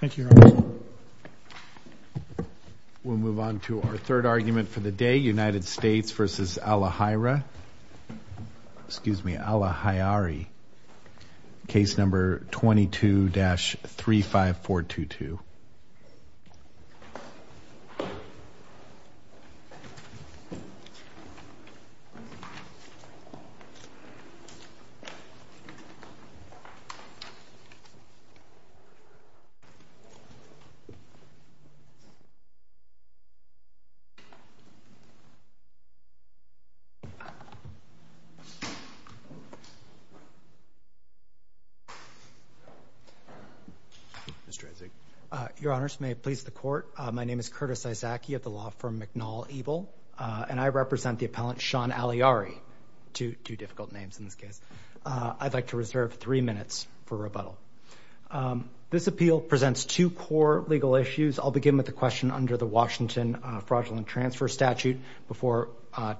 Thank you we'll move on to our third argument for the day United States v. Allahyara excuse me Allahyari case number 22-35422 Your Honours, may it please the Court, my name is Curtis Izaki of the law firm McNaul Ebel and I represent the appellant Shaun Allahyari, two difficult names in this case. I'd like to reserve three minutes for rebuttal. This appeal presents two core legal issues I'll begin with the question under the Washington fraudulent transfer statute before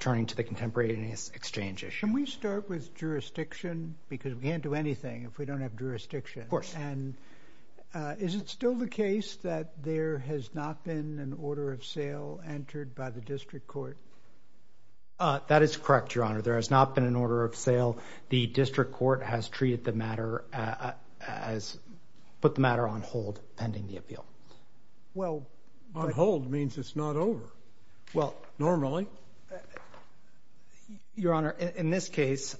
turning to the contemporaneous exchange issue. Can we start with jurisdiction because we can't do anything if we don't have jurisdiction. Of course. And is it still the case that there has not been an order of sale entered by the district court? That is correct Your Honour there has not been an order of sale the district court has treated the matter as put the matter on hold pending the appeal. On hold means it's not over. Normally. Your Honour in this case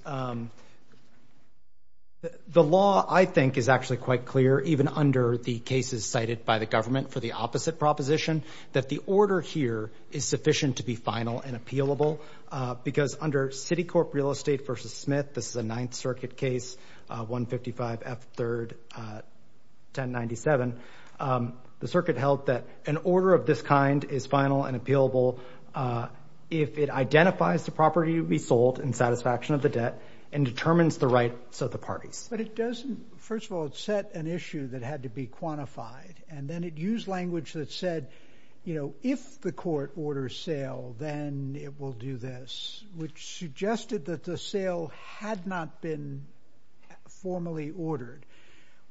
the law I think is actually quite clear even under the cases cited by the government for the opposite proposition that the order here is sufficient to be final and appealable because under Citicorp Real Estate v. Smith this is a Ninth Circuit case 155 F. 3rd 1097 the circuit held that an order of this kind is final and appealable if it identifies the property to be sold in satisfaction of the debt and determines the rights of the parties. But it doesn't first of all it set an issue that had to be quantified and then it used language that said you know if the court orders sale then it will do this which suggested that the sale had not been formally ordered.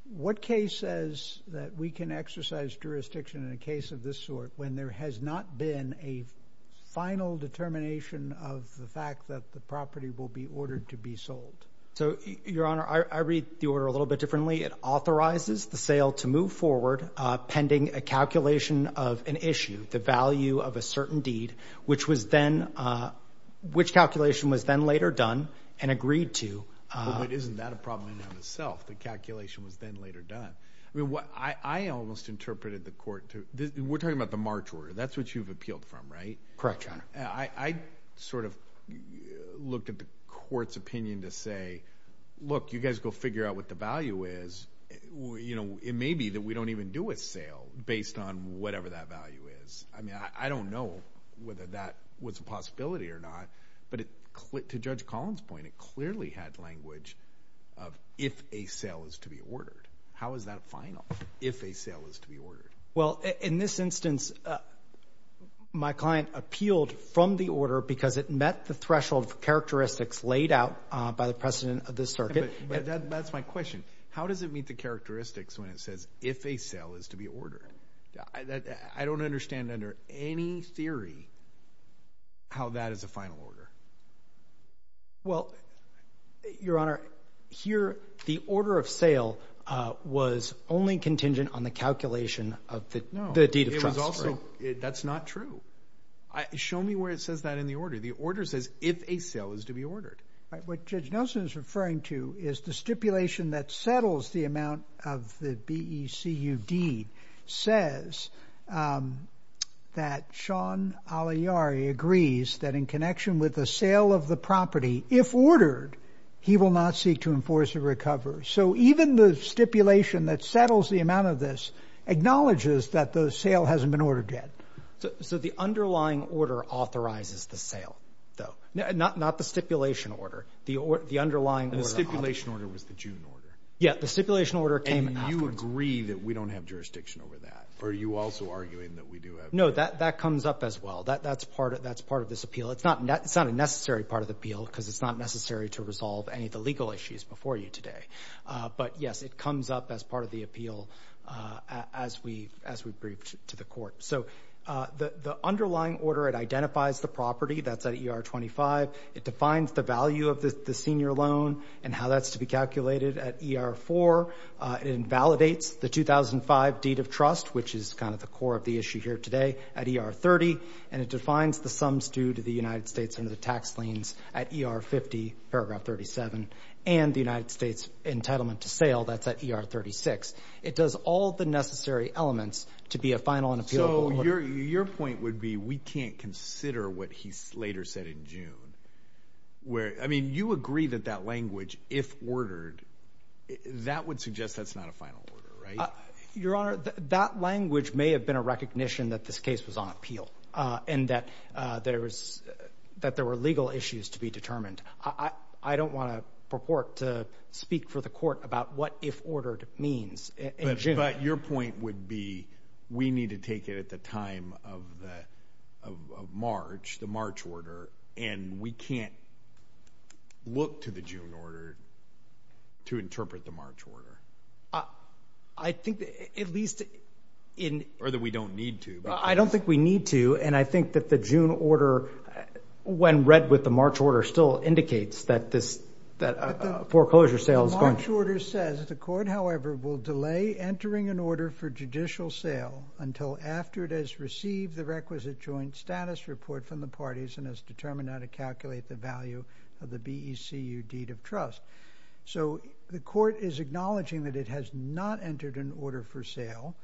What case says that we can exercise jurisdiction in a case of this sort when there has not been a final determination of the fact that the property will be ordered to be sold? So Your Honour I read the order a little bit differently it authorizes the sale to move an issue the value of a certain deed which was then which calculation was then later done and agreed to. But isn't that a problem in and of itself the calculation was then later done? I mean what I almost interpreted the court to we're talking about the March order that's what you've appealed from right? Correct Your Honour. I sort of looked at the court's opinion to say look you guys go figure out what the value is you know it may be that we don't even do a sale based on whatever that value is. I mean I don't know whether that was a possibility or not but to Judge Collins point it clearly had language of if a sale is to be ordered. How is that final if a sale is to be ordered? Well in this instance my client appealed from the order because it met the threshold characteristics laid out by the precedent of this circuit. But that's my question how does it meet the characteristics when it says if a sale is to be ordered? I don't understand under any theory how that is a final order. Well Your Honour here the order of sale was only contingent on the calculation of the deed of trust. That's not true. Show me where it says that in the order the order says if a sale is to be ordered. What Judge Nelson is referring to is the stipulation that settles the amount of the BECUD says that Sean Agliari agrees that in connection with the sale of the property if ordered he will not seek to enforce a recovery. So even the stipulation that settles the amount of this acknowledges that the sale hasn't been ordered yet. So the underlying order authorizes the sale though not the stipulation order the underlying order. And the stipulation order was the June order? Yeah the stipulation order came afterwards. And you agree that we don't have jurisdiction over that? Or are you also arguing that we do have jurisdiction? No that that comes up as well that that's part of that's part of this appeal. It's not it's not a necessary part of the appeal because it's not necessary to resolve any of the legal issues before you today. But yes it comes up as part of the appeal as we as we briefed to the court. So the the underlying order it identifies the property that's at ER 25. It defines the value of the senior loan and how that's to be calculated at ER 4. It invalidates the 2005 deed of trust which is kind of the core of the issue here today at ER 30. And it defines the sums due to the United States under the tax liens at ER 50 paragraph 37. And the United States entitlement to sale that's at ER 36. It does all the necessary elements to be a final and appeal. Your point would be we can't consider what he later said in June. Where I mean you agree that that language if ordered that would suggest that's not a final order right? Your honor that language may have been a recognition that this case was on appeal. And that there was that there were legal issues to be determined. I don't want to purport to speak for the court about what if ordered means. But your point would be we need to take it at the time of the of March the March order. And we can't look to the June order to interpret the March order. I think at least in or that we don't need to. I don't think we need to and I think that the June order when read with the foreclosure sale. The March order says the court however will delay entering an order for judicial sale until after it has received the requisite joint status report from the parties and has determined how to calculate the value of the BECU deed of trust. So the court is acknowledging that it has not entered an order for sale.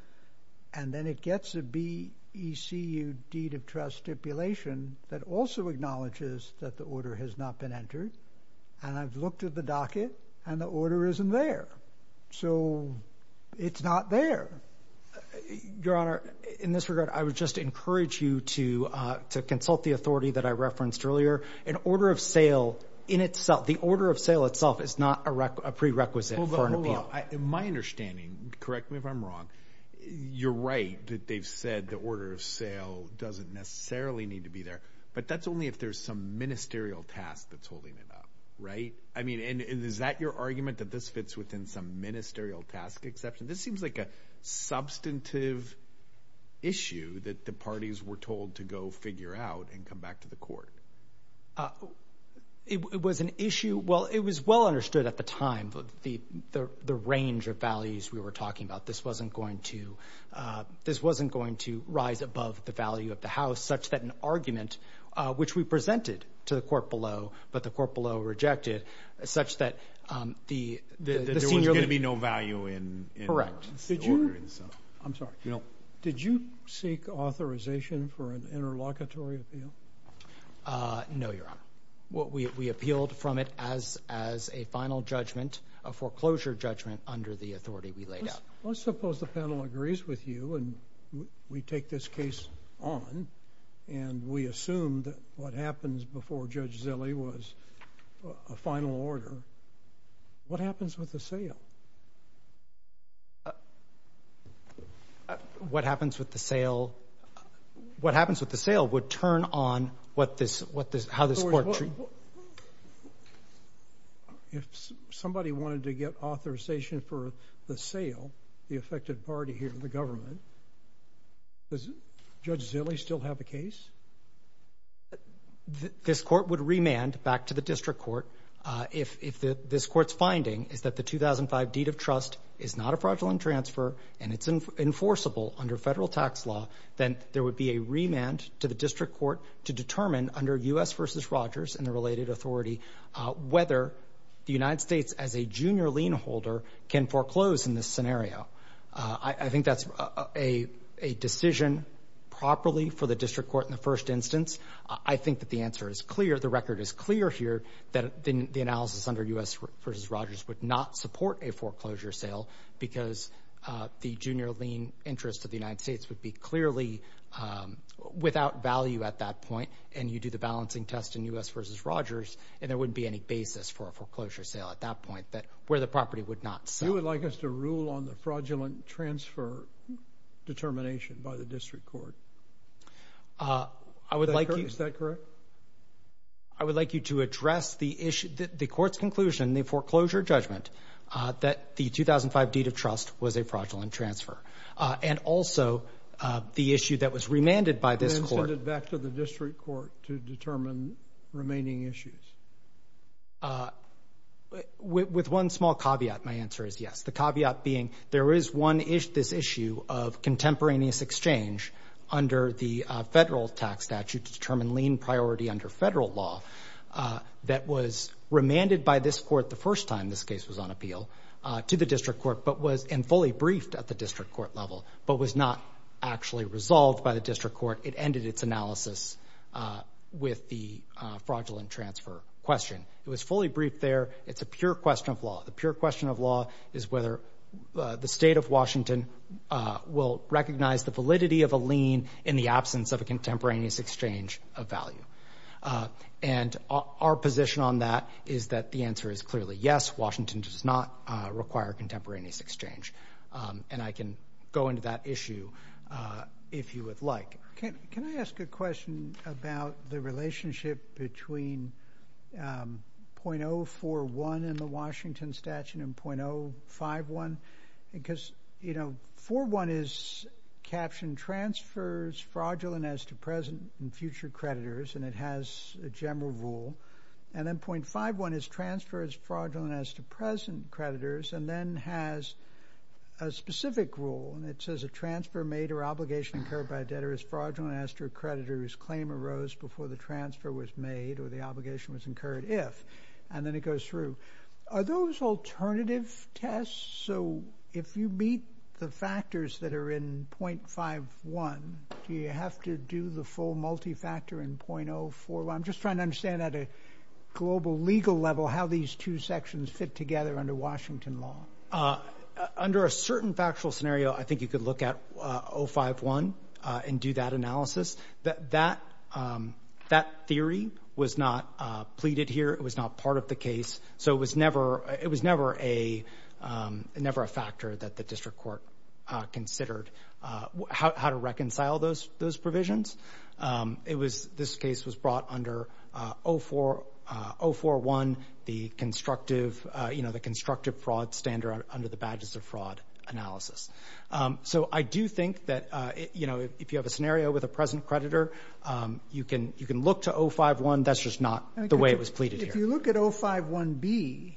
And then it gets a BECU deed of trust stipulation that also acknowledges that the order has not been entered. And I've looked at the docket and the order isn't there. So it's not there. Your honor in this regard I would just encourage you to consult the authority that I referenced earlier. An order of sale in itself the order of sale itself is not a prerequisite for an appeal. My understanding correct me if I'm wrong. You're right that they've said the order of sale doesn't necessarily need to be there. But that's only if there's some ministerial task that's holding it up. Right. I mean and is that your argument that this fits within some ministerial task exception. This seems like a substantive issue that the parties were told to go figure out and come back to the court. It was an issue. Well it was well understood at the time. The range of values we were talking about this wasn't going to this wasn't going to rise above the value of the house such that an argument which we presented to the court below but the court below rejected such that the there was going to be no value in. Correct. I'm sorry. Did you seek authorization for an interlocutory appeal? No your honor. What we appealed from it as as a final judgment a foreclosure judgment under the authority we laid out. Let's suppose the panel agrees with you and we take this case on and we assume that what happens before Judge Zille was a final order. What happens with the sale? What happens with the sale what happens with the sale would turn on what this what this court. If somebody wanted to get authorization for the sale the affected party here in the government does Judge Zille still have the case? This court would remand back to the district court if if the this court's finding is that the 2005 deed of trust is not a fraudulent transfer and it's enforceable under federal tax law then there would be a remand to the district court to determine under U.S. versus Rogers and the related authority whether the United States as a junior lien holder can foreclose in this scenario. I think that's a a decision properly for the district court in the first instance. I think that the answer is clear the record is clear here that the analysis under U.S. versus Rogers would not support a foreclosure sale because the junior lien interest of the United States would be clearly without value at that point and you do the balancing test in U.S. versus Rogers and there wouldn't be any basis for a foreclosure sale at that point that where the property would not sell. You would like us to rule on the fraudulent transfer determination by the district court? I would like you. Is that correct? I would like you to address the issue the court's conclusion the foreclosure judgment that the 2005 deed of trust was a fraudulent transfer and also the issue that was remanded by this court. Back to the district court to determine remaining issues. With one small caveat my answer is yes. The caveat being there is one issue this issue of contemporaneous exchange under the federal tax statute to determine lien priority under federal law that was remanded by this court the first time this case was on appeal to the district court but was and fully briefed at the district court level but was not actually resolved by the district court it ended its analysis with the fraudulent transfer question. It was fully briefed there it's a pure question of law. The pure question of law is whether the state of Washington will recognize the validity of a lien in the absence of a contemporaneous exchange of value. And our position on that is that the answer is clearly yes Washington does not require contemporaneous exchange and I can go into that issue if you would like. Can I ask a question about the relationship between 0.041 in the Washington statute and 0.051 because you know 0.041 is captioned transfers fraudulent as to present and future creditors and it has a general rule and then 0.51 is transfers fraudulent as to present creditors and then has a specific rule and it says a transfer made or obligation incurred by a debtor is fraudulent as to a creditor whose claim arose before the transfer was made or the obligation was incurred if and then it goes through. Are those alternative tests so if you beat the factors that are in 0.51 do you have to do the full multi-factor in 0.04? I'm just trying to understand at a global legal level how these two sections fit together under Washington law. Under a certain factual scenario I think you could look at 0.051 and do that analysis. That theory was not pleaded here it was not part of the case so it was never a factor that the district court considered how to reconcile those provisions. This case was brought under 0.041 the constructive you know the constructive fraud standard under the badges of fraud analysis. So I do think that you know if you have a scenario with a present creditor you can you can look to 0.051 that's just not the way it was pleaded. If you look at 0.051B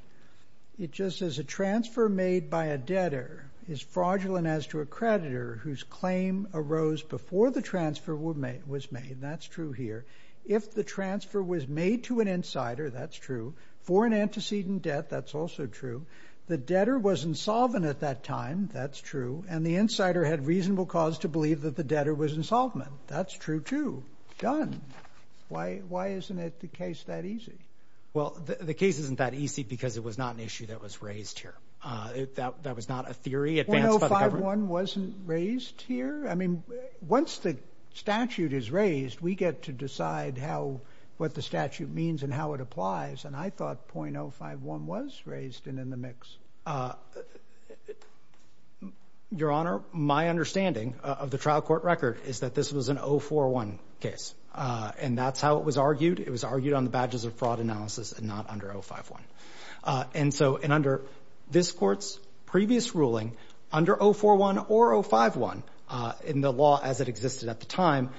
it just says a transfer made by a debtor is fraudulent as to a creditor whose claim arose before the transfer was made that's true here if the transfer was made to an insider that's true for an antecedent debt that's also true the debtor was insolvent at that time that's true and the insider had reasonable cause to believe that the debtor was insolvent that's true too. Done. Why isn't it the case that easy? Well the case isn't that easy because it was not an issue that was raised here. That was not a theory. 0.051 wasn't raised here I mean once the statute is raised we get to decide how what the statute means and how it applies and I thought 0.051 was raised and in the mix. Your honor my understanding of the trial court record is that this was an 0.041 case and that's how it was argued it was argued on the badges of fraud analysis and not under 0.051 and so and under this court's previous ruling under 0.041 or 0.051 in the law as it existed at the time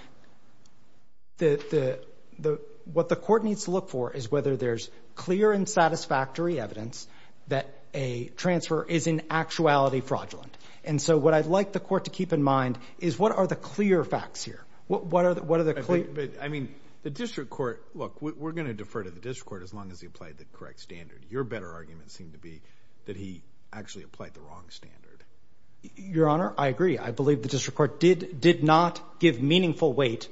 that the what the court needs to look for is whether there's clear and satisfactory evidence that a transfer is in actuality fraudulent and so what I'd like the court to keep in mind is what are the clear facts here what are the what are the clear I mean the district court look we're gonna defer to the district court as long as he applied the correct standard your better argument seemed to be that he actually applied the wrong standard your honor I agree I believe the district court did did not give meaningful weight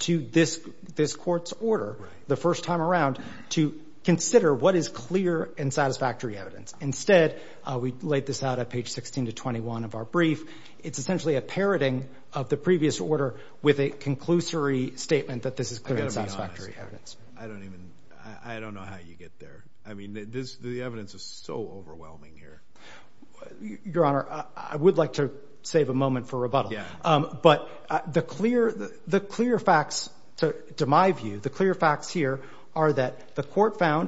to this this courts order the first time around to consider what is clear and satisfactory evidence instead we laid this out at page 16 to 21 of our brief it's essentially a parroting of the previous order with a conclusory statement that this is clear and satisfactory evidence I don't even I don't know how you get there I mean this the evidence is so overwhelming here your honor I would like to save a moment for rebuttal yeah but the clear the clear facts to my view the clear facts here are that the common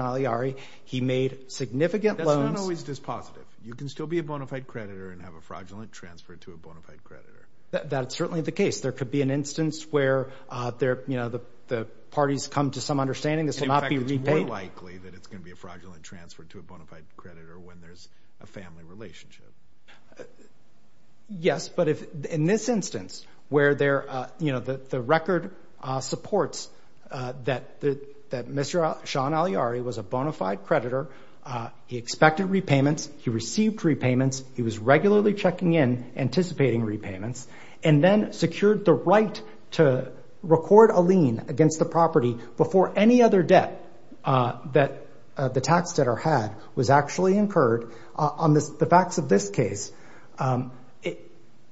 aliari he made significant loans always dispositive you can still be a bona fide creditor and have a fraudulent transfer to a bona fide creditor that's certainly the case there could be an instance where there you know the the parties come to some understanding this will not be repaid likely that it's gonna be a fraudulent transfer to a bona fide creditor when there's a family relationship yes but if in this instance where there you know that the record supports that the that mr. Sean aliari was a bona fide creditor he expected repayments he received repayments he was regularly checking in anticipating repayments and then secured the right to record a lien against the property before any other debt that the tax debtor had was actually incurred on this the facts of this case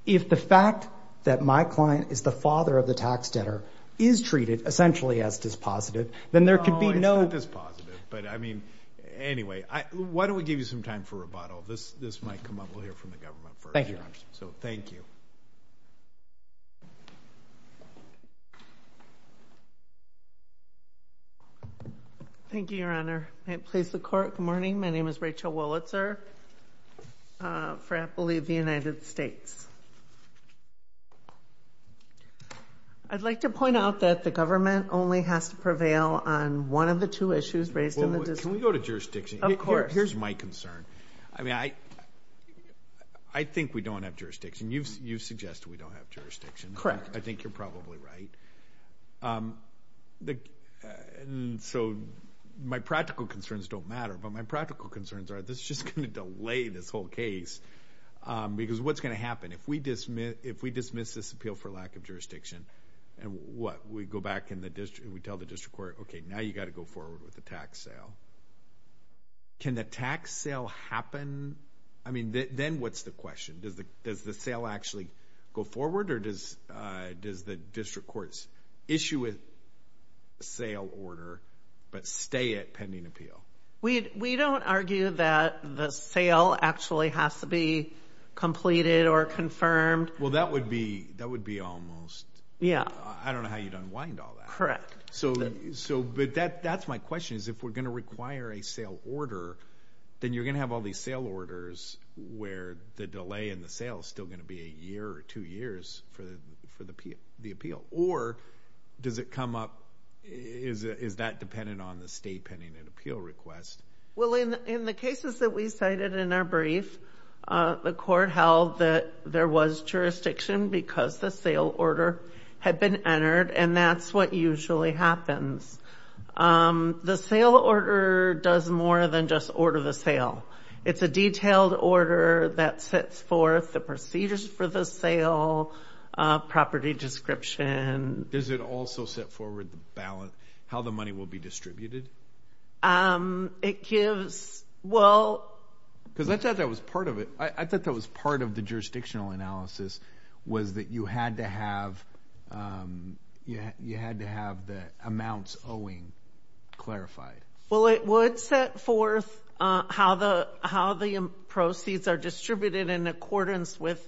if the fact that my client is the father of a tax debtor is treated essentially as dispositive then there could be no this positive but I mean anyway I why don't we give you some time for rebuttal this this might come up we'll hear from the government thank you so thank you thank you your honor I place the court good morning my name is Rachel Wollitzer for I believe the United States I'd like to point out that the government only has to prevail on one of the two issues raised in the district we go to jurisdiction of course here's my concern I mean I I think we don't have jurisdiction you've you've suggested we don't have jurisdiction correct I think you're probably right the so my practical concerns don't my practical concerns are this just gonna delay this whole case because what's gonna happen if we dismiss if we dismiss this appeal for lack of jurisdiction and what we go back in the district we tell the district court okay now you got to go forward with the tax sale can the tax sale happen I mean then what's the question does the does the sale actually go forward or does does the you don't argue that the sale actually has to be completed or confirmed well that would be that would be almost yeah I don't know how you don't wind all that correct so so but that that's my question is if we're gonna require a sale order then you're gonna have all these sale orders where the delay in the sale is still gonna be a year or two years for the for the appeal the appeal or does it come up is is that dependent on the state pending an appeal request well in in the cases that we cited in our brief the court held that there was jurisdiction because the sale order had been entered and that's what usually happens the sale order does more than just order the sale it's a detailed order that sets forth the procedures for the sale property description does it also set forward the ballot how the money will be distributed it gives well because I thought that was part of it I thought that was part of the jurisdictional analysis was that you had to have you had to have the amounts owing clarified well it would set forth how the how the proceeds are distributed in accordance with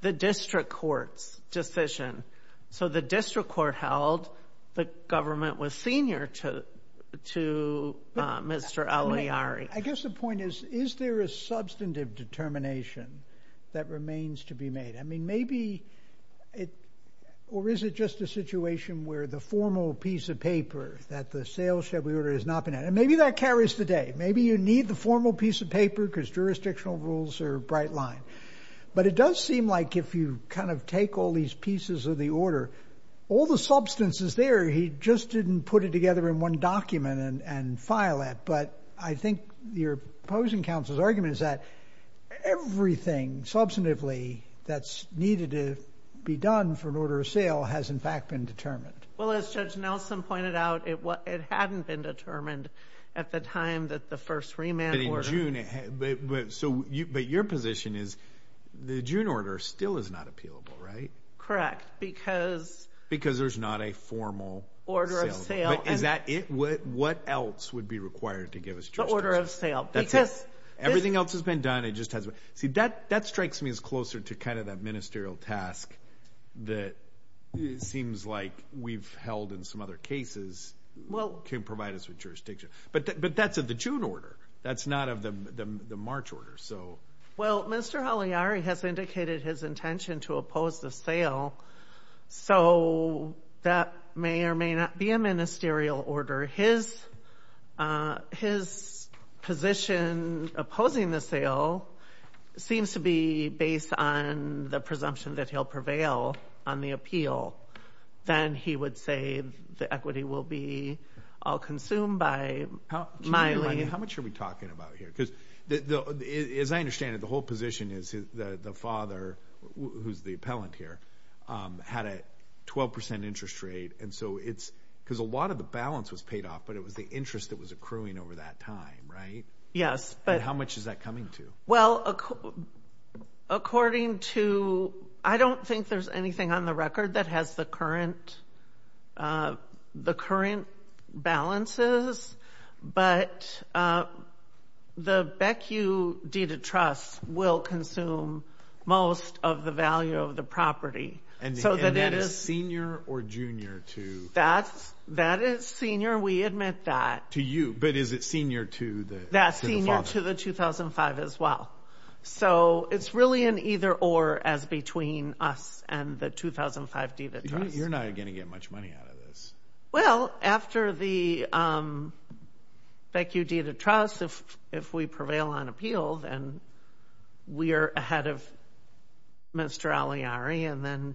the district courts decision so the district court held the government was senior to to mr. Ali Ari I guess the point is is there a substantive determination that remains to be made I mean maybe it or is it just a situation where the formal piece of paper that the sale should we order is not been it and maybe that carries today maybe you need the formal piece of paper because jurisdictional rules are bright line but it does seem like if you kind of take all these pieces of the order all the substance is there he just didn't put it together in one document and file it but I think you're opposing counsel's argument is that everything substantively that's needed to be done for an order of sale has in fact been determined well as judge Nelson pointed out it what it hadn't been determined at the time that the first remand but so you but your position is the June order still is not appealable right correct because because there's not a formal order of sale is that it would what else would be required to give us the order of sale that says everything else has been done it just has a see that that strikes me as closer to kind of that ministerial task that seems like we've held in some other cases well can provide us with jurisdiction but but that's at the June order that's not of them the March order so well mr. Haley Ari has indicated his intention to oppose the sale so that may or may not be a ministerial order his his position opposing the sale seems to be based on the will be all consumed by how much are we talking about here because the as I understand it the whole position is the the father who's the appellant here had a 12% interest rate and so it's because a lot of the balance was paid off but it was the interest that was accruing over that time right yes but how much is that coming to well according to I don't think there's anything on the record that has the current the current balances but the Beck you deed of trust will consume most of the value of the property and so that it is senior or junior to that's that is senior we admit that to you but is it senior to the that senior to the 2005 as well so it's really an either-or as between us and the 2005 D that you're not gonna get much money out of this well after the Beck you deed of trust if if we prevail on appeal then we are ahead of mr. Ali Ari and then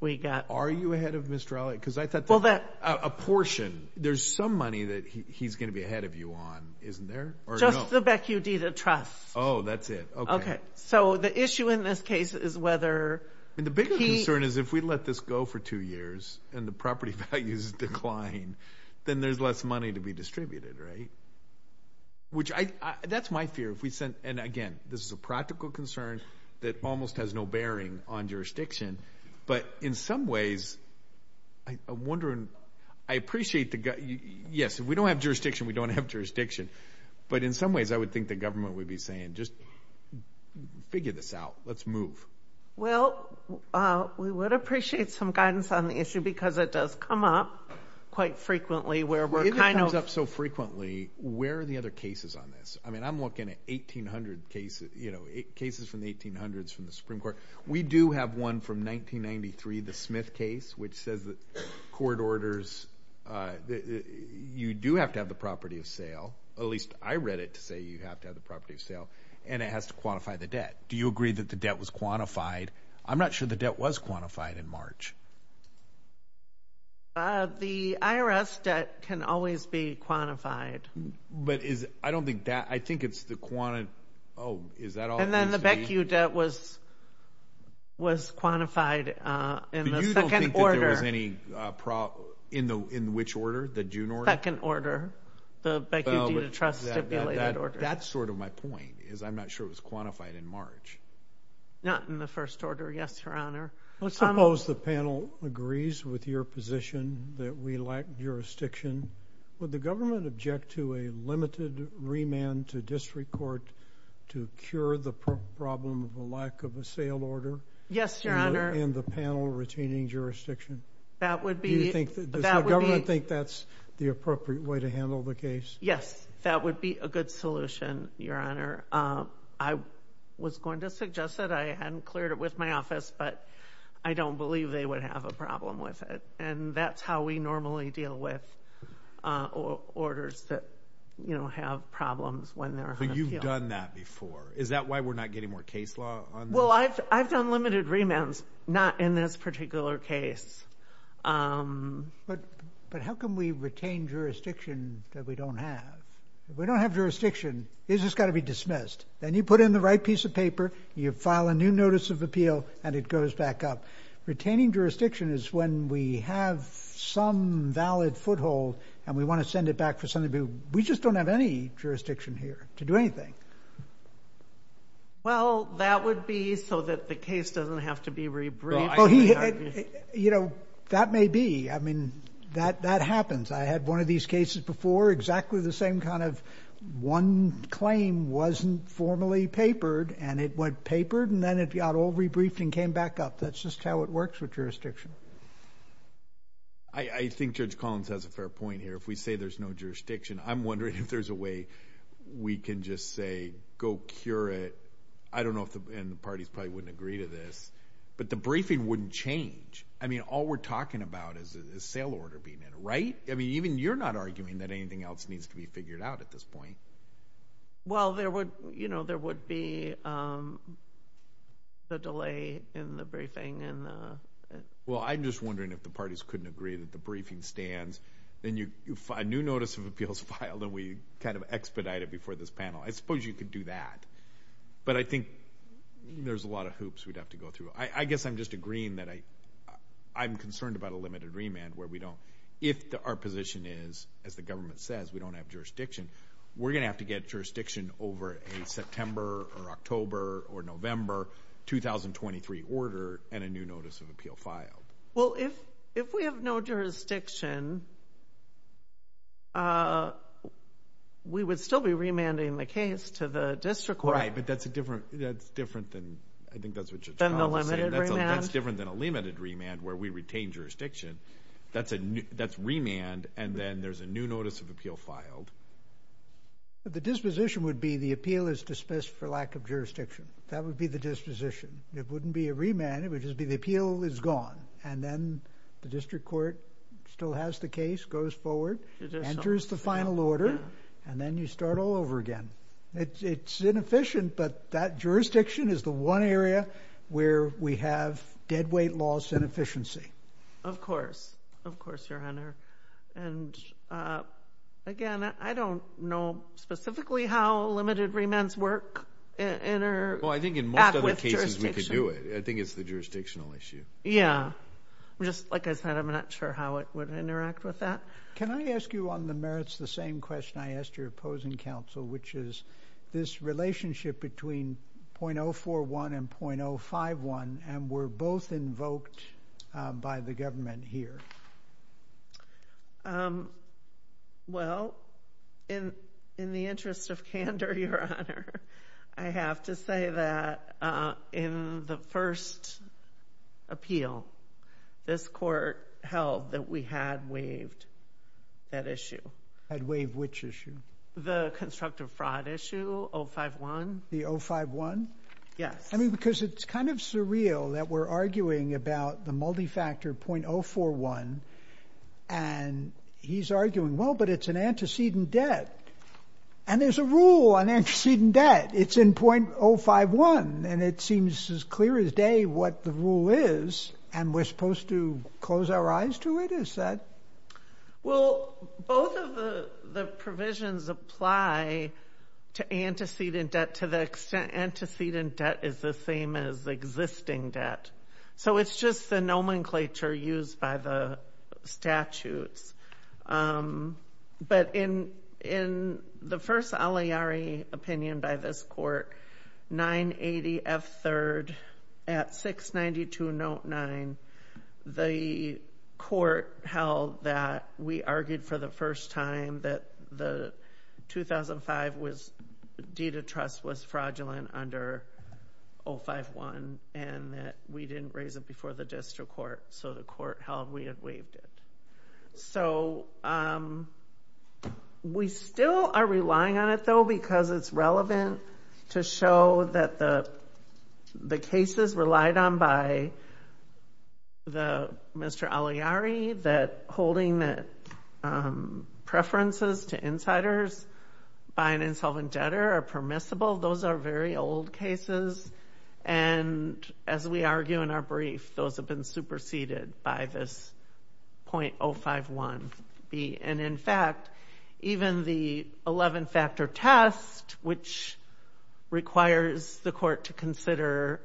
we got are you ahead of mr. Ali because I thought well that a portion there's some money that he's gonna be ahead of you on isn't there or just the Beck you deed of trust oh that's it okay so the issue in this case is whether and the bigger concern is if we let this go for two years and the property values decline then there's less money to be distributed right which I that's my fear if we sent and again this is a practical concern that almost has no bearing on jurisdiction but in some ways I wonder and I appreciate the gut yes if we don't have jurisdiction we don't have jurisdiction but in some ways I would think the government would be saying just figure this out let's move well we would appreciate some guidance on the issue because it does come up quite frequently where we're kind of up so frequently where are the other cases on this I mean I'm looking at 1800 cases you know it cases from the 1800s from the Supreme Court we do have one from 1993 the Smith case which says that court orders you do have to have the property of sale at least I read it to say you have to have the property of sale and it has to quantify the debt do you agree that the debt was quantified I'm not sure the debt was quantified in March the IRS debt can always be quantified but is I don't think that I think it's the quantity oh is that all and then quantified in order any problem in the in which order the June or second order the trust that's sort of my point is I'm not sure it was quantified in March not in the first order yes your honor let's suppose the panel agrees with your position that we like jurisdiction would the government object to a limited remand to district court to cure the problem of a lack of a sale order yes your honor and the panel retaining jurisdiction that would be think that government think that's the appropriate way to handle the case yes that would be a good solution your honor I was going to suggest that I hadn't cleared it with my office but I don't believe they would have a problem with it and that's how we normally deal with orders that you know have problems when they're you've done that before is that why we're not getting more case law well I've done limited remands not in this particular case but but how can we retain jurisdiction that we don't have we don't have jurisdiction this has got to be dismissed then you put in the right piece of paper you file a new of appeal and it goes back up retaining jurisdiction is when we have some valid foothold and we want to send it back for something we just don't have any jurisdiction here to do anything well that would be so that the case doesn't have to be rebriefed you know that may be I mean that that happens I had one of these cases before exactly the same kind of one claim wasn't formally papered and it went papered and then it got all rebriefed and came back up that's just how it works with jurisdiction I I think judge Collins has a fair point here if we say there's no jurisdiction I'm wondering if there's a way we can just say go cure it I don't know if the parties probably wouldn't agree to this but the briefing wouldn't change I mean all we're talking about is a sale order being in right I mean even you're not arguing that anything else needs to be figured out at this point well there would you know there would be the delay in the briefing and well I'm just wondering if the parties couldn't agree that the briefing stands then you find new notice of appeals filed and we kind of expedited before this panel I suppose you could do that but I think there's a lot of hoops we'd have to go through I guess I'm just agreeing that I I'm concerned about a limited remand where we don't if the our position is as the government says we don't have jurisdiction we're gonna have to get jurisdiction over a September or October or November 2023 order and a new notice of appeal filed well if if we have no jurisdiction we would still be remanding the case to the district right but that's a different that's different than I think that's what you're saying that's different than a limited remand where we filed but the disposition would be the appeal is dismissed for lack of jurisdiction that would be the disposition it wouldn't be a remand it would just be the appeal is gone and then the district court still has the case goes forward enters the final order and then you start all over again it's inefficient but that jurisdiction is the one area where we have deadweight loss of course of course your honor and again I don't know specifically how limited remands work you know I think in most other cases we could do it I think it's the jurisdictional issue yeah just like I said I'm not sure how it would interact with that can I ask you on the merits the same question I asked your opposing counsel which is this relationship between 0.041 and 0.051 and were both invoked by the government here well in in the interest of candor your honor I have to say that in the first appeal this court held that we had waived that issue I'd wave which issue the constructive fraud issue 051 the 051 yes I mean because it's kind of surreal that we're arguing about the multi-factor 0.041 and he's arguing well but it's an antecedent debt and there's a rule on antecedent debt it's in 0.051 and it seems as clear as day what the rule is and we're supposed to close our eyes to it is that well both of the provisions apply to antecedent debt to the extent antecedent debt is the same as existing debt so it's just the nomenclature used by the statutes but in in the first Aliari opinion by this court 980 F third at 692 note 9 the court held that we argued for the first time that the 2005 was deed of trust was fraudulent under 051 and that we didn't raise it before the district court so the court held we have waived it so we still are relying on it though because it's relevant to show that the the cases relied on by the mr. Aliari that holding that preferences to insiders by an insolvent debtor are permissible those are very old cases and as we argue in our brief those have been superseded by this 0.051 be and in fact even the 11 factor test which requires the court to consider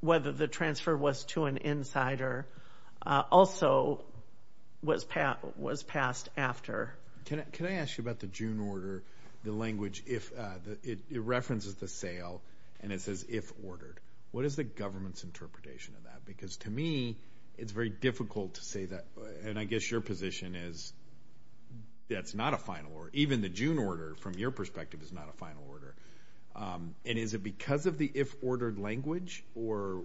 whether the transfer was to an insider also was Pat was passed after can I can I ask you about the June order the language it references the sale and it says if ordered what is the government's interpretation of that because to me it's very difficult to say that and I guess your position is that's not a final or even the June order from your perspective is not a final order and is it because of the if ordered language or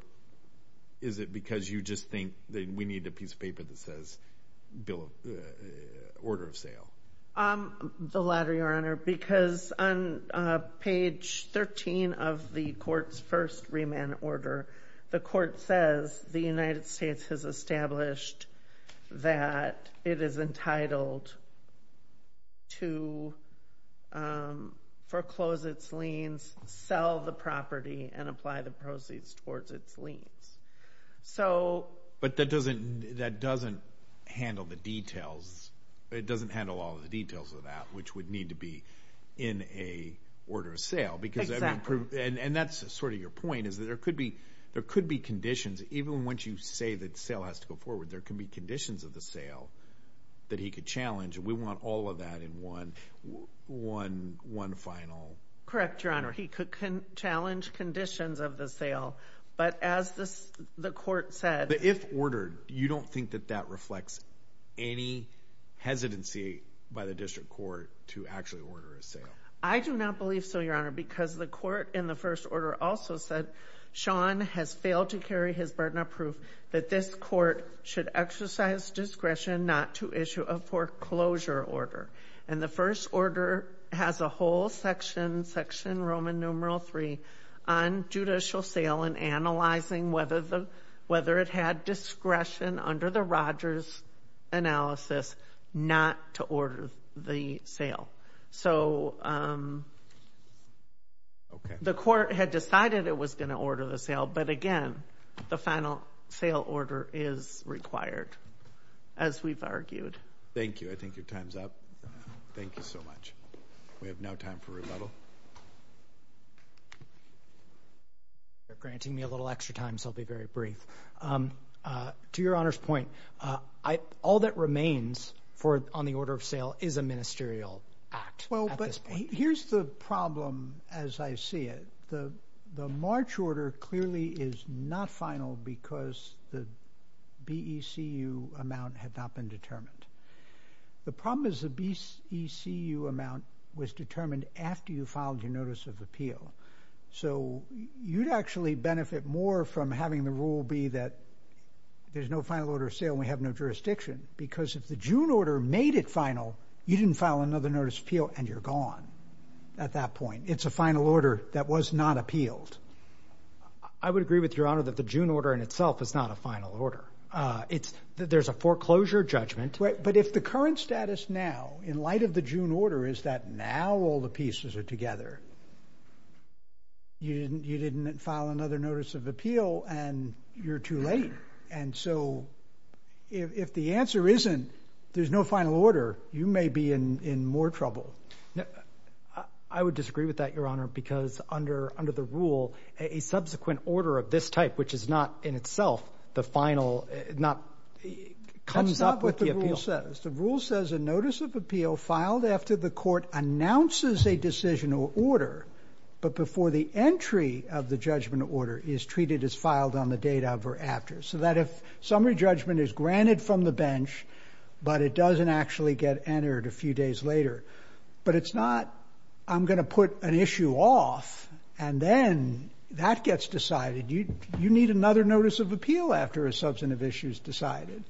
is it because you just think that we need a piece of paper that says bill order of sale the latter your honor because on page 13 of the courts first remand order the court says the United States has established that it is entitled to foreclose its liens sell the property and apply the proceeds towards its liens so but that doesn't that doesn't handle the details it doesn't handle all the details of that which would need to be in a order of sale because and that's sort of your point is that there could be there could be conditions even once you say that sale has to go forward there can be conditions of the sale that he could challenge we want all of that in one one one final correct your honor he could challenge conditions of the sale but as this the court said if ordered you don't think that that reflects any hesitancy by the district court to actually order a sale i do not believe so your honor because the court in the first order also said sean has failed to carry his burden of proof that this court should exercise discretion not to issue a foreclosure order and the first order has a whole section section roman numeral three on judicial sale and analyzing whether the whether it had discretion under the rogers analysis not to order the sale so um okay the court had decided it was going to order the sale but again the final sale order is required as we've argued thank you i think your time's up thank you so much we have no time for rebuttal granting me a little extra time so i'll be very brief um uh to your honor's point uh i all that remains for on the order of sale is a ministerial act well but here's the problem as i see it the the march order clearly is not final because the becu amount had not been determined the problem is the becu amount was determined after you filed your notice of appeal so you'd actually benefit more from having the rule be that there's no final order of sale we have no jurisdiction because if the june order made it final you didn't file another notice appeal and you're gone at that point it's a final order that was not appealed i would agree with your honor that the june order in itself is not a final order uh it's there's a foreclosure judgment but if the current status now in light of the june order is that now all the pieces are together you didn't you didn't file another notice of appeal and you're too late and so if the answer isn't there's no final order you may be in in more trouble i would disagree with that your honor because under under the rule a subsequent order of this type which is not in itself the final not comes up with the appeal says the rule says a notice of appeal filed after the court announces a decisional order but before the entry of the judgment order is treated as filed on the date of or after so that if summary judgment is granted from the bench but it doesn't actually get entered a few days later but it's not i'm going to put an off and then that gets decided you you need another notice of appeal after a substantive issues decided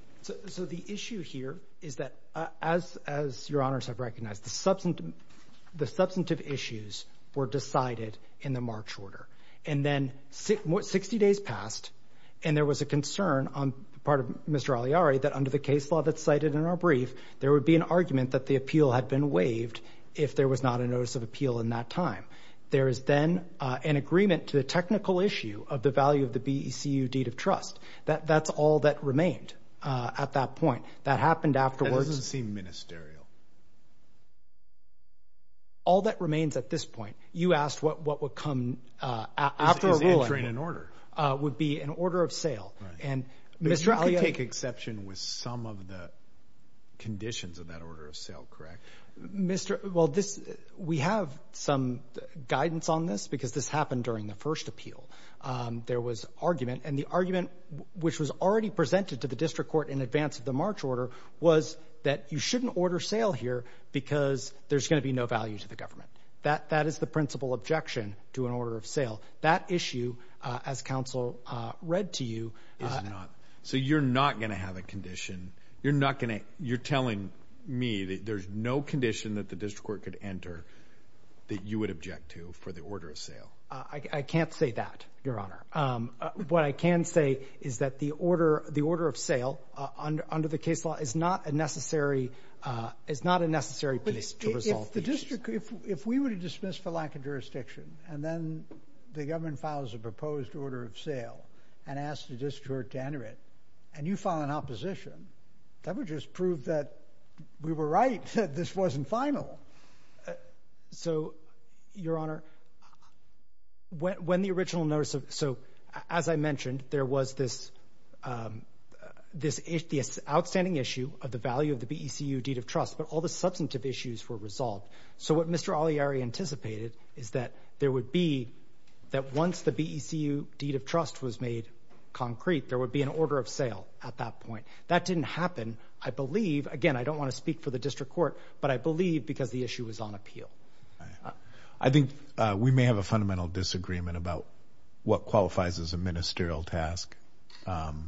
so the issue here is that as as your honors have recognized the substance the substantive issues were decided in the march order and then 60 days passed and there was a concern on part of mr aliari that under the case law that's cited in our brief there would be an there is then uh an agreement to the technical issue of the value of the becu deed of trust that that's all that remained uh at that point that happened afterwards it doesn't seem ministerial all that remains at this point you asked what what would come uh after a ruling in order uh would be an order of sale and mr ali take exception with some of the conditions of that order of sale mr well this we have some guidance on this because this happened during the first appeal um there was argument and the argument which was already presented to the district court in advance of the march order was that you shouldn't order sale here because there's going to be no value to the government that that is the principal objection to an order of sale that issue uh as council uh read to you is not so you're not going to have a condition you're not going to you're no condition that the district court could enter that you would object to for the order of sale i can't say that your honor um what i can say is that the order the order of sale under the case law is not a necessary uh it's not a necessary piece to resolve the district if we would dismiss for lack of jurisdiction and then the government files a proposed order of sale and asked the district to enter it and you file an opposition that would just prove that we were right that this wasn't final so your honor when the original notice of so as i mentioned there was this um this is the outstanding issue of the value of the becu deed of trust but all the substantive issues were resolved so what mr ali anticipated is that there would be that once the becu deed of trust was made concrete there would be an order of sale at that point that didn't happen i believe again i don't want to speak for the district court but i believe because the issue is on appeal i think we may have a fundamental disagreement about what qualifies as a ministerial task um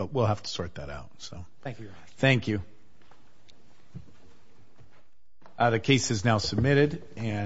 but we'll have to sort that out so thank you thank you uh the case is now submitted and